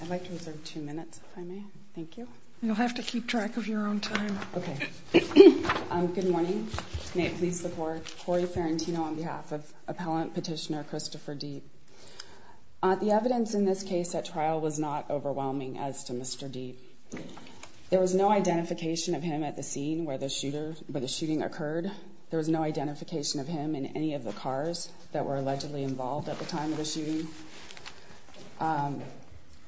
I'd like to reserve two minutes, if I may. Thank you. You'll have to keep track of your own time. Okay. Good morning. May it please the Court. Cory Ferrentino on behalf of Appellant Petitioner Christopher Diep. The evidence in this case at trial was not overwhelming as to Mr. Diep. There was no identification of him at the scene where the shooting occurred. There was no identification of him in any of the cars that were allegedly involved at the time of the shooting.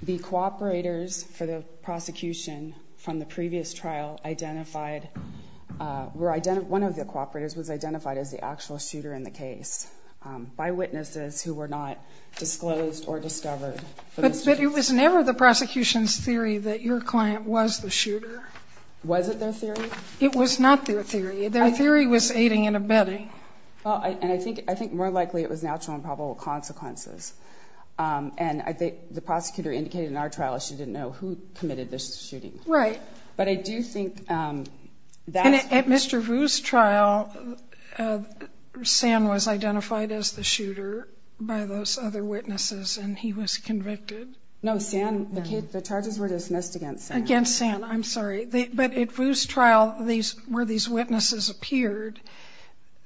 The cooperators for the prosecution from the previous trial identified where one of the cooperators was identified as the actual shooter in the case by witnesses who were not disclosed or discovered. But it was never the prosecution's theory that your client was the shooter. Was it their theory? It was not their theory. Their theory was aiding and abetting. And I think more likely it was natural and probable consequences. And I think the prosecutor indicated in our trial issue didn't know who committed the shooting. Right. But I do think that's And at Mr. Vu's trial, San was identified as the shooter by those other witnesses, and he was convicted. No, San, the charges were dismissed against San. Against San, I'm sorry. But at Vu's trial, where these witnesses appeared,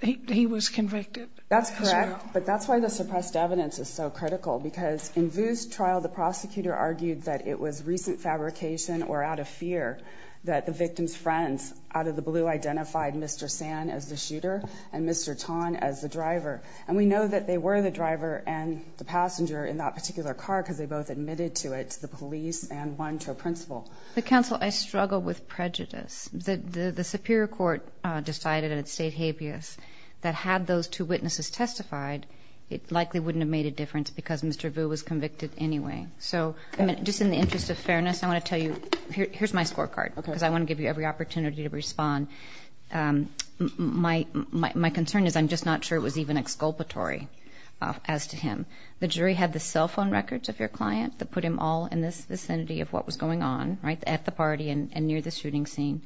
he was convicted. That's correct. But that's why the suppressed evidence is so critical. Because in Vu's trial, the prosecutor argued that it was recent fabrication or out of fear that the victim's friends out of the blue identified Mr. San as the shooter and Mr. Tan as the driver. And we know that they were the driver and the passenger in that particular car because they both admitted to it to the police and one to a principal. Counsel, I struggle with prejudice. The superior court decided in its state habeas that had those two witnesses testified, it likely wouldn't have made a difference because Mr. Vu was convicted anyway. So just in the interest of fairness, I want to tell you, here's my scorecard. Okay. Because I want to give you every opportunity to respond. My concern is I'm just not sure it was even exculpatory as to him. The jury had the cell phone records of your client that put him all in the vicinity of what was going on, at the party and near the shooting scene.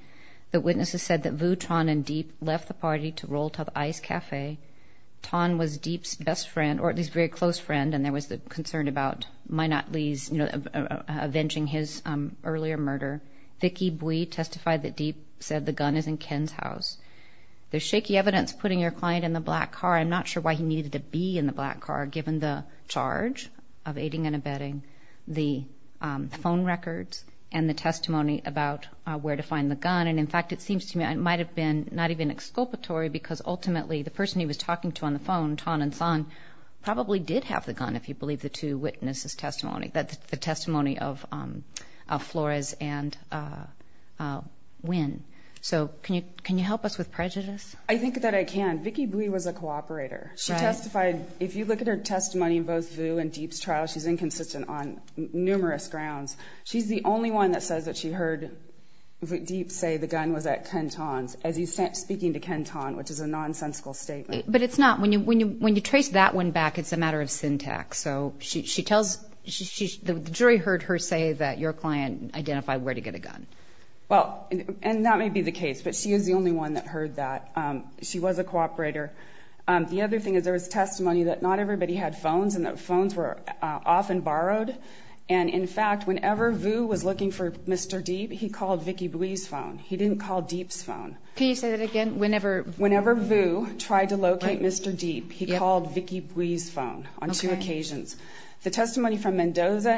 The witnesses said that Vu, Tan, and Diep left the party to roll to the Ice Cafe. Tan was Diep's best friend, or at least very close friend, and there was the concern about Minot Lee's avenging his earlier murder. Vicky Bui testified that Diep said the gun is in Ken's house. There's shaky evidence putting your client in the black car. I'm not sure why he needed to be in the black car given the charge of aiding and abetting the phone records and the testimony about where to find the gun. And, in fact, it seems to me it might have been not even exculpatory because ultimately the person he was talking to on the phone, Tan and Sang, probably did have the gun if you believe the two witnesses' testimony, the testimony of Flores and Nguyen. So can you help us with prejudice? I think that I can. Vicky Bui was a cooperator. She testified. If you look at her testimony in both Vu and Diep's trial, she's inconsistent on numerous grounds. She's the only one that says that she heard Diep say the gun was at Ken Tan's as he's speaking to Ken Tan, which is a nonsensical statement. But it's not. When you trace that one back, it's a matter of syntax. So the jury heard her say that your client identified where to get a gun. Well, and that may be the case, but she is the only one that heard that. She was a cooperator. The other thing is there was testimony that not everybody had phones and that phones were often borrowed. And, in fact, whenever Vu was looking for Mr. Diep, he called Vicky Bui's phone. He didn't call Diep's phone. Can you say that again? Whenever Vu tried to locate Mr. Diep, he called Vicky Bui's phone on two occasions. The testimony from Mendoza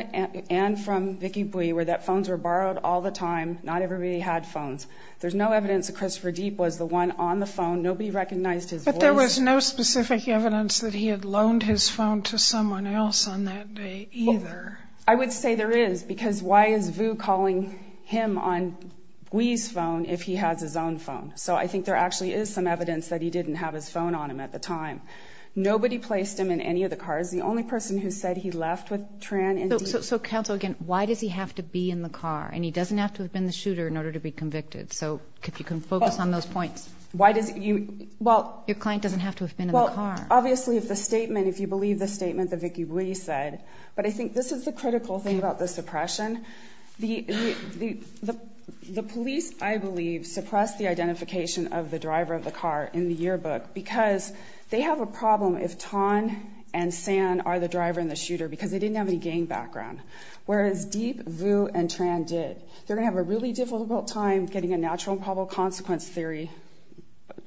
and from Vicky Bui were that phones were borrowed all the time. Not everybody had phones. There's no evidence that Christopher Diep was the one on the phone. Nobody recognized his voice. But there was no specific evidence that he had loaned his phone to someone else on that day either. I would say there is, because why is Vu calling him on Bui's phone if he has his own phone? So I think there actually is some evidence that he didn't have his phone on him at the time. Nobody placed him in any of the cars. The only person who said he left with Tran and Diep. So, counsel, again, why does he have to be in the car? And he doesn't have to have been the shooter in order to be convicted. So if you can focus on those points. Your client doesn't have to have been in the car. Well, obviously, if the statement, if you believe the statement that Vicky Bui said, but I think this is the critical thing about the suppression. The police, I believe, suppressed the identification of the driver of the car in the yearbook because they have a problem if Thanh and San are the driver and the shooter because they didn't have any gang background. Whereas Diep, Vu, and Tran did. They're going to have a really difficult time getting a natural and probable consequence theory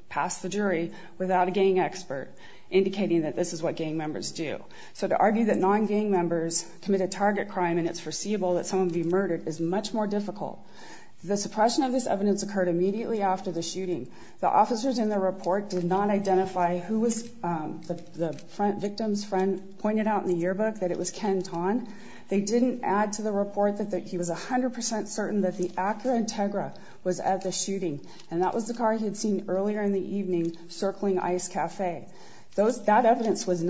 past the jury without a gang expert indicating that this is what gang members do. So to argue that non-gang members committed target crime and it's foreseeable that someone would be murdered is much more difficult. The suppression of this evidence occurred immediately after the shooting. The officers in the report did not identify who was the victim's friend, pointed out in the yearbook that it was Ken Thanh. They didn't add to the report that he was 100% certain that the Acura Integra was at the shooting, and that was the car he had seen earlier in the evening circling Ice Cafe. That evidence was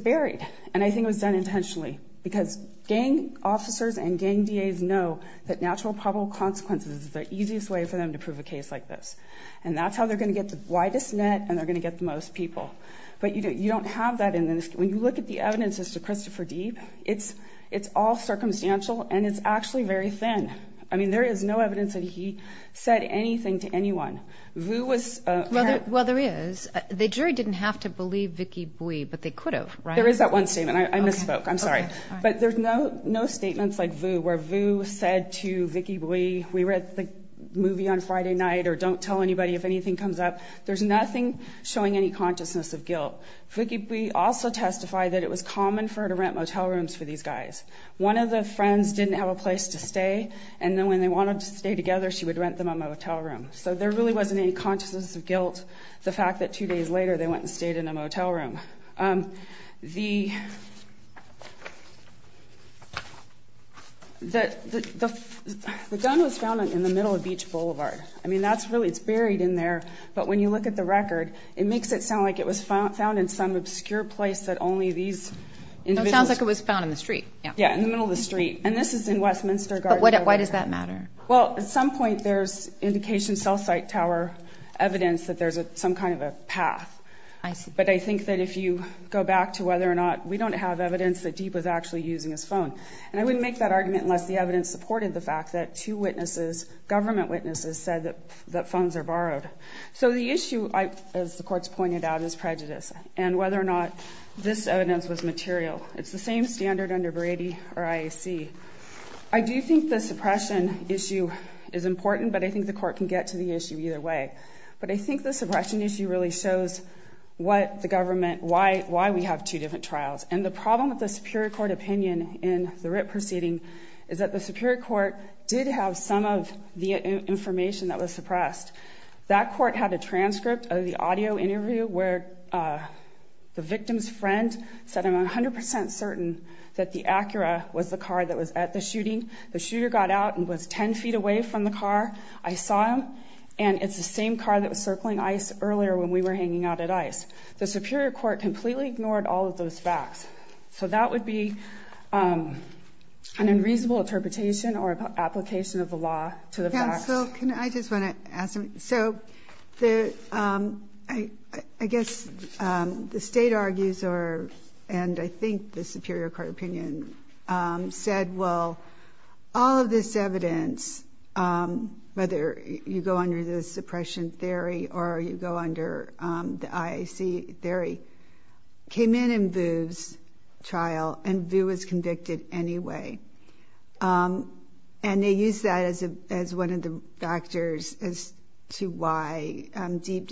buried, and I think it was done intentionally because gang officers and gang DAs know that natural and probable consequences is the easiest way for them to prove a case like this. And that's how they're going to get the widest net, and they're going to get the most people. But you don't have that. When you look at the evidence as to Christopher Deeb, it's all circumstantial, and it's actually very thin. I mean, there is no evidence that he said anything to anyone. Vu was a parent. Well, there is. The jury didn't have to believe Vicky Bui, but they could have, right? There is that one statement. I misspoke. I'm sorry. But there's no statements like Vu where Vu said to Vicky Bui, we read the movie on Friday night or don't tell anybody if anything comes up. There's nothing showing any consciousness of guilt. Vicky Bui also testified that it was common for her to rent motel rooms for these guys. One of the friends didn't have a place to stay, and then when they wanted to stay together she would rent them a motel room. So there really wasn't any consciousness of guilt, the fact that two days later they went and stayed in a motel room. The gun was found in the middle of Beach Boulevard. I mean, that's really, it's buried in there. But when you look at the record, it makes it sound like it was found in some obscure place that only these individuals. It sounds like it was found in the street. Yeah, in the middle of the street. And this is in Westminster Garden. But why does that matter? Well, at some point there's indication cell site tower evidence that there's some kind of a path. I see. But I think that if you go back to whether or not, we don't have evidence that Deep was actually using his phone. And I wouldn't make that argument unless the evidence supported the fact that two witnesses, government witnesses, said that phones are borrowed. So the issue, as the courts pointed out, is prejudice and whether or not this evidence was material. It's the same standard under Brady or IAC. I do think the suppression issue is important, but I think the court can get to the issue either way. But I think the suppression issue really shows what the government, why we have two different trials. And the problem with the Superior Court opinion in the RIT proceeding is that the Superior Court did have some of the information that was suppressed. That court had a transcript of the audio interview where the victim's friend said, I'm 100% certain that the Acura was the car that was at the shooting. The shooter got out and was 10 feet away from the car. I saw him. And it's the same car that was circling ICE earlier when we were hanging out at ICE. The Superior Court completely ignored all of those facts. So that would be an unreasonable interpretation or application of the law to the facts. I just want to ask something. So I guess the state argues, and I think the Superior Court opinion said, well, all of this evidence, whether you go under the suppression theory or you go under the IAC theory, came in in Vu's trial and Vu was convicted anyway. And they used that as one of the factors as to why Deep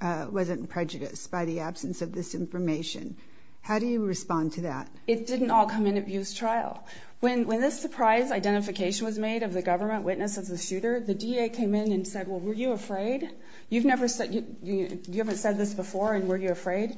wasn't prejudiced by the absence of this information. How do you respond to that? It didn't all come in at Vu's trial. When this surprise identification was made of the government witness of the shooter, the DA came in and said, well, were you afraid? You haven't said this before, and were you afraid?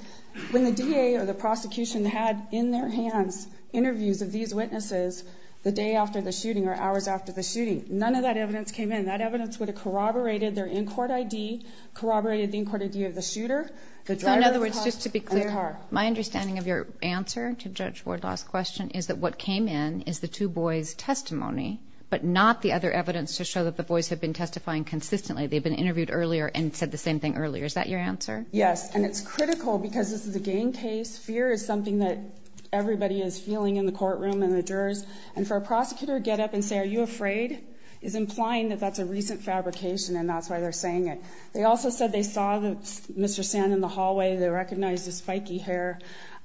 When the DA or the prosecution had in their hands interviews of these witnesses the day after the shooting or hours after the shooting, none of that evidence came in. That evidence would have corroborated their in-court ID, corroborated the in-court ID of the shooter. So in other words, just to be clear, my understanding of your answer to Judge Wardlaw's question is that what came in is the two boys' testimony, but not the other evidence to show that the boys have been testifying consistently. They've been interviewed earlier and said the same thing earlier. Is that your answer? Yes, and it's critical because this is a gang case. Fear is something that everybody is feeling in the courtroom and the jurors. And for a prosecutor to get up and say, are you afraid, is implying that that's a recent fabrication, and that's why they're saying it. They also said they saw Mr. Sand in the hallway. They recognized his spiky hair.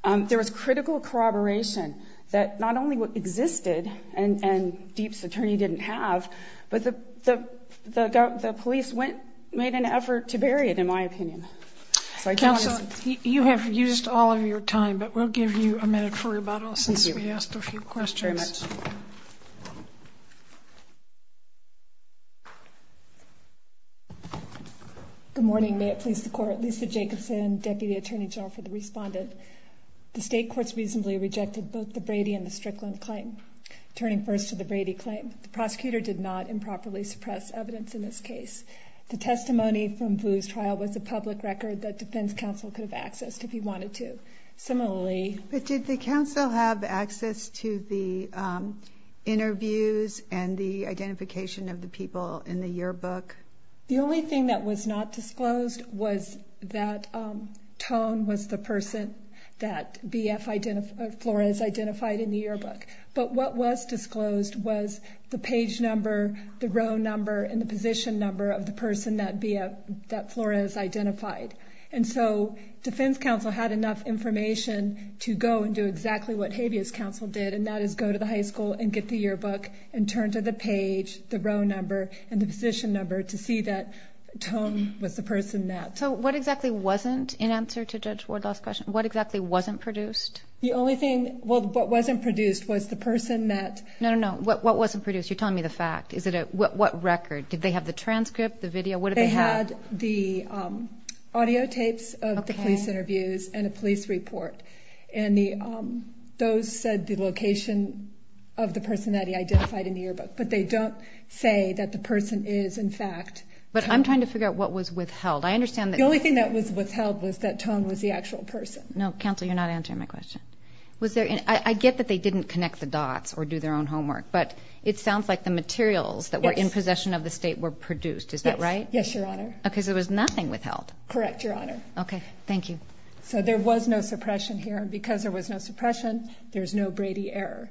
There was critical corroboration that not only existed and Deep's attorney didn't have, but the police made an effort to bury it, in my opinion. Counsel, you have used all of your time, but we'll give you a minute for rebuttal since we asked a few questions. Thank you very much. Good morning. May it please the Court. Lisa Jacobson, Deputy Attorney General for the Respondent. The state courts reasonably rejected both the Brady and the Strickland claim, turning first to the Brady claim. The prosecutor did not improperly suppress evidence in this case. The testimony from Boo's trial was a public record that defense counsel could have accessed if he wanted to. Similarly- But did the counsel have access to the interviews and the identification of the people in the yearbook? The only thing that was not disclosed was that Tone was the person that Flores identified in the yearbook. But what was disclosed was the page number, the row number, and the position number of the person that Flores identified. And so defense counsel had enough information to go and do exactly what habeas counsel did, and that is go to the high school and get the yearbook and turn to the page, the row number, and the position number to see that Tone was the person that- So what exactly wasn't, in answer to Judge Wardlaw's question, what exactly wasn't produced? The only thing, well, what wasn't produced was the person that- No, no, no. What wasn't produced? You're telling me the fact. What record? Did they have the transcript, the video? What did they have? They had the audio tapes of the police interviews and a police report, and those said the location of the person that he identified in the yearbook, but they don't say that the person is, in fact- But I'm trying to figure out what was withheld. I understand that- The only thing that was withheld was that Tone was the actual person. No, counsel, you're not answering my question. I get that they didn't connect the dots or do their own homework, but it sounds like the materials that were in possession of the state were produced. Is that right? Yes, Your Honor. Because there was nothing withheld. Correct, Your Honor. Okay. Thank you. So there was no suppression here, and because there was no suppression, there's no Brady error.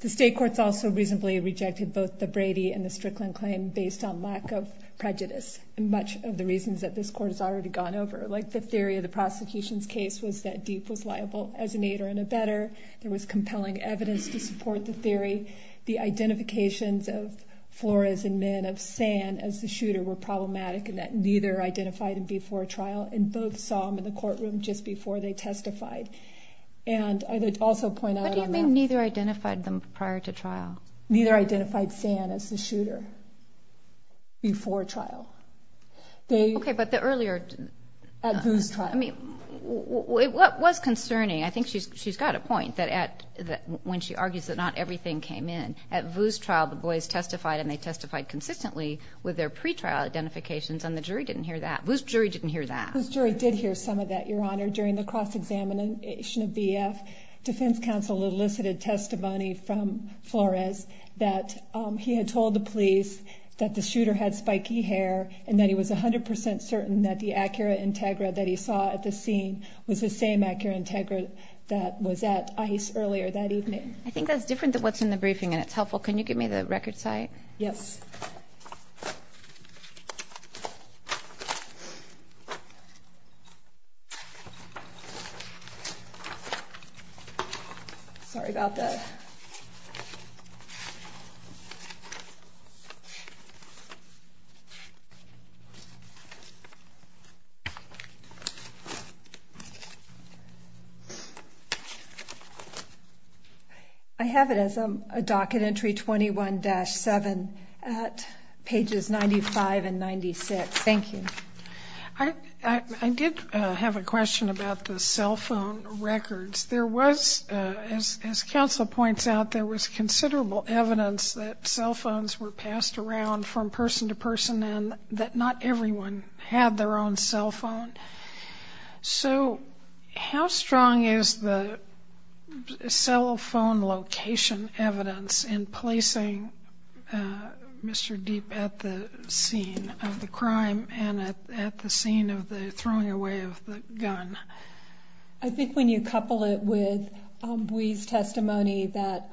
The state courts also reasonably rejected both the Brady and the Strickland claim based on lack of prejudice, and much of the reasons that this court has already gone over. Like the theory of the prosecution's case was that Deep was liable as an aider and abetter. There was compelling evidence to support the theory. The identifications of Flores and Min of San as the shooter were problematic and that neither identified him before trial, and both saw him in the courtroom just before they testified. And I would also point out- What do you mean neither identified them prior to trial? Neither identified San as the shooter before trial. Okay, but the earlier- At Vu's trial. What was concerning, I think she's got a point, when she argues that not everything came in, at Vu's trial the boys testified and they testified consistently with their pretrial identifications and the jury didn't hear that. Vu's jury didn't hear that. The jury did hear some of that, Your Honor. During the cross-examination of BF, defense counsel elicited testimony from Flores that he had told the police that the shooter had spiky hair and that he was 100% certain that the Acura Integra that he saw at the scene was the same Acura Integra that was at ICE earlier that evening. I think that's different than what's in the briefing and it's helpful. Can you give me the record site? Yes. Sorry about that. Okay. I have it as a docket entry 21-7 at pages 95 and 96. Thank you. I did have a question about the cell phone records. There was, as counsel points out, there was considerable evidence that cell phones were passed around from person to person and that not everyone had their own cell phone. So how strong is the cell phone location evidence in placing Mr. Deep at the scene of the crime and at the scene of the throwing away of the gun? I think when you couple it with Bui's testimony that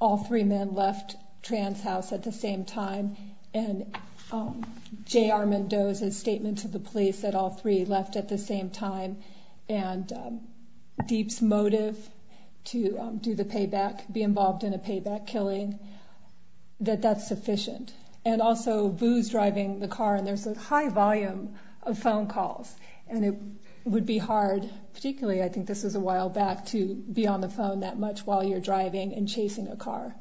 all three men left Tran's house at the same time and J.R. Mendoza's statement to the police that all three left at the same time and Deep's motive to do the payback, be involved in a payback killing, that that's sufficient. And also Boo's driving the car and there's a high volume of phone calls and it would be hard, particularly I think this was a while back, to be on the phone that much while you're driving and chasing a car.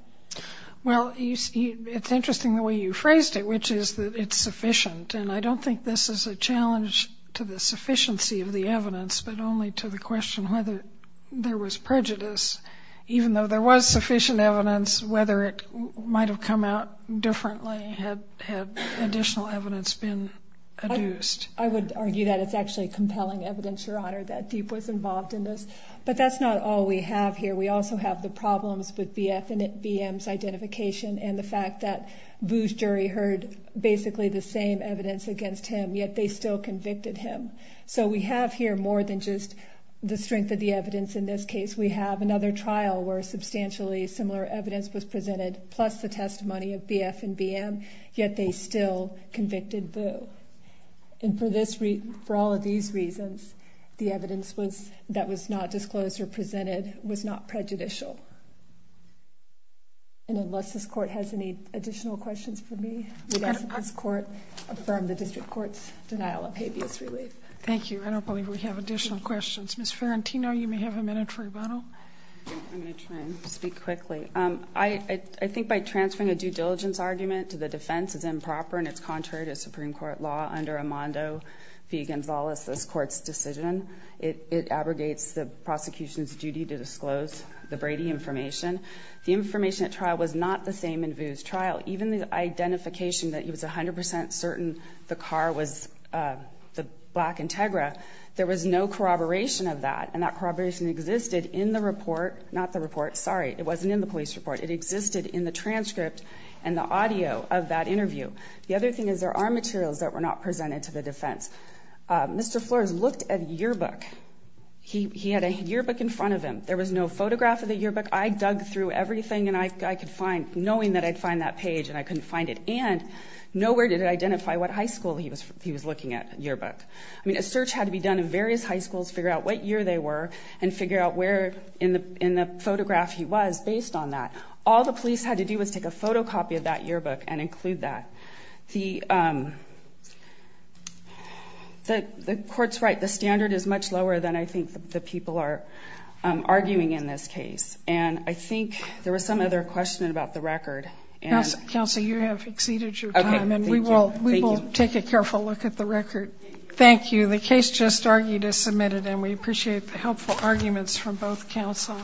Well, it's interesting the way you phrased it, which is that it's sufficient. And I don't think this is a challenge to the sufficiency of the evidence but only to the question whether there was prejudice. Even though there was sufficient evidence, whether it might have come out differently had additional evidence been adduced. I would argue that it's actually compelling evidence, Your Honor, that Deep was involved in this. But that's not all we have here. We also have the problems with BF and BM's identification and the fact that Boo's jury heard basically the same evidence against him yet they still convicted him. So we have here more than just the strength of the evidence in this case. We have another trial where substantially similar evidence was presented plus the testimony of BF and BM, yet they still convicted Boo. And for all of these reasons, the evidence that was not disclosed or presented was not prejudicial. And unless this Court has any additional questions for me, we ask that this Court affirm the District Court's denial of habeas relief. Thank you. I don't believe we have additional questions. Ms. Ferrentino, you may have a minute for rebuttal. I'm going to try and speak quickly. I think by transferring a due diligence argument to the defense is improper and it's contrary to Supreme Court law under Amando v. Gonzalez, this Court's decision. It abrogates the prosecution's duty to disclose the Brady information. The information at trial was not the same in Boo's trial. Even the identification that he was 100 percent certain the car was the black Integra, there was no corroboration of that, and that corroboration existed in the report Sorry, it wasn't in the police report. It existed in the transcript and the audio of that interview. The other thing is there are materials that were not presented to the defense. Mr. Flores looked at yearbook. He had a yearbook in front of him. There was no photograph of the yearbook. I dug through everything and I could find, knowing that I'd find that page and I couldn't find it. And nowhere did it identify what high school he was looking at yearbook. I mean, a search had to be done in various high schools to figure out what year they were and figure out where in the photograph he was based on that. All the police had to do was take a photocopy of that yearbook and include that. The Court's right. The standard is much lower than I think the people are arguing in this case. And I think there was some other question about the record. Counsel, you have exceeded your time, and we will take a careful look at the record. Thank you. The case just argued is submitted, and we appreciate the helpful arguments from both counsel.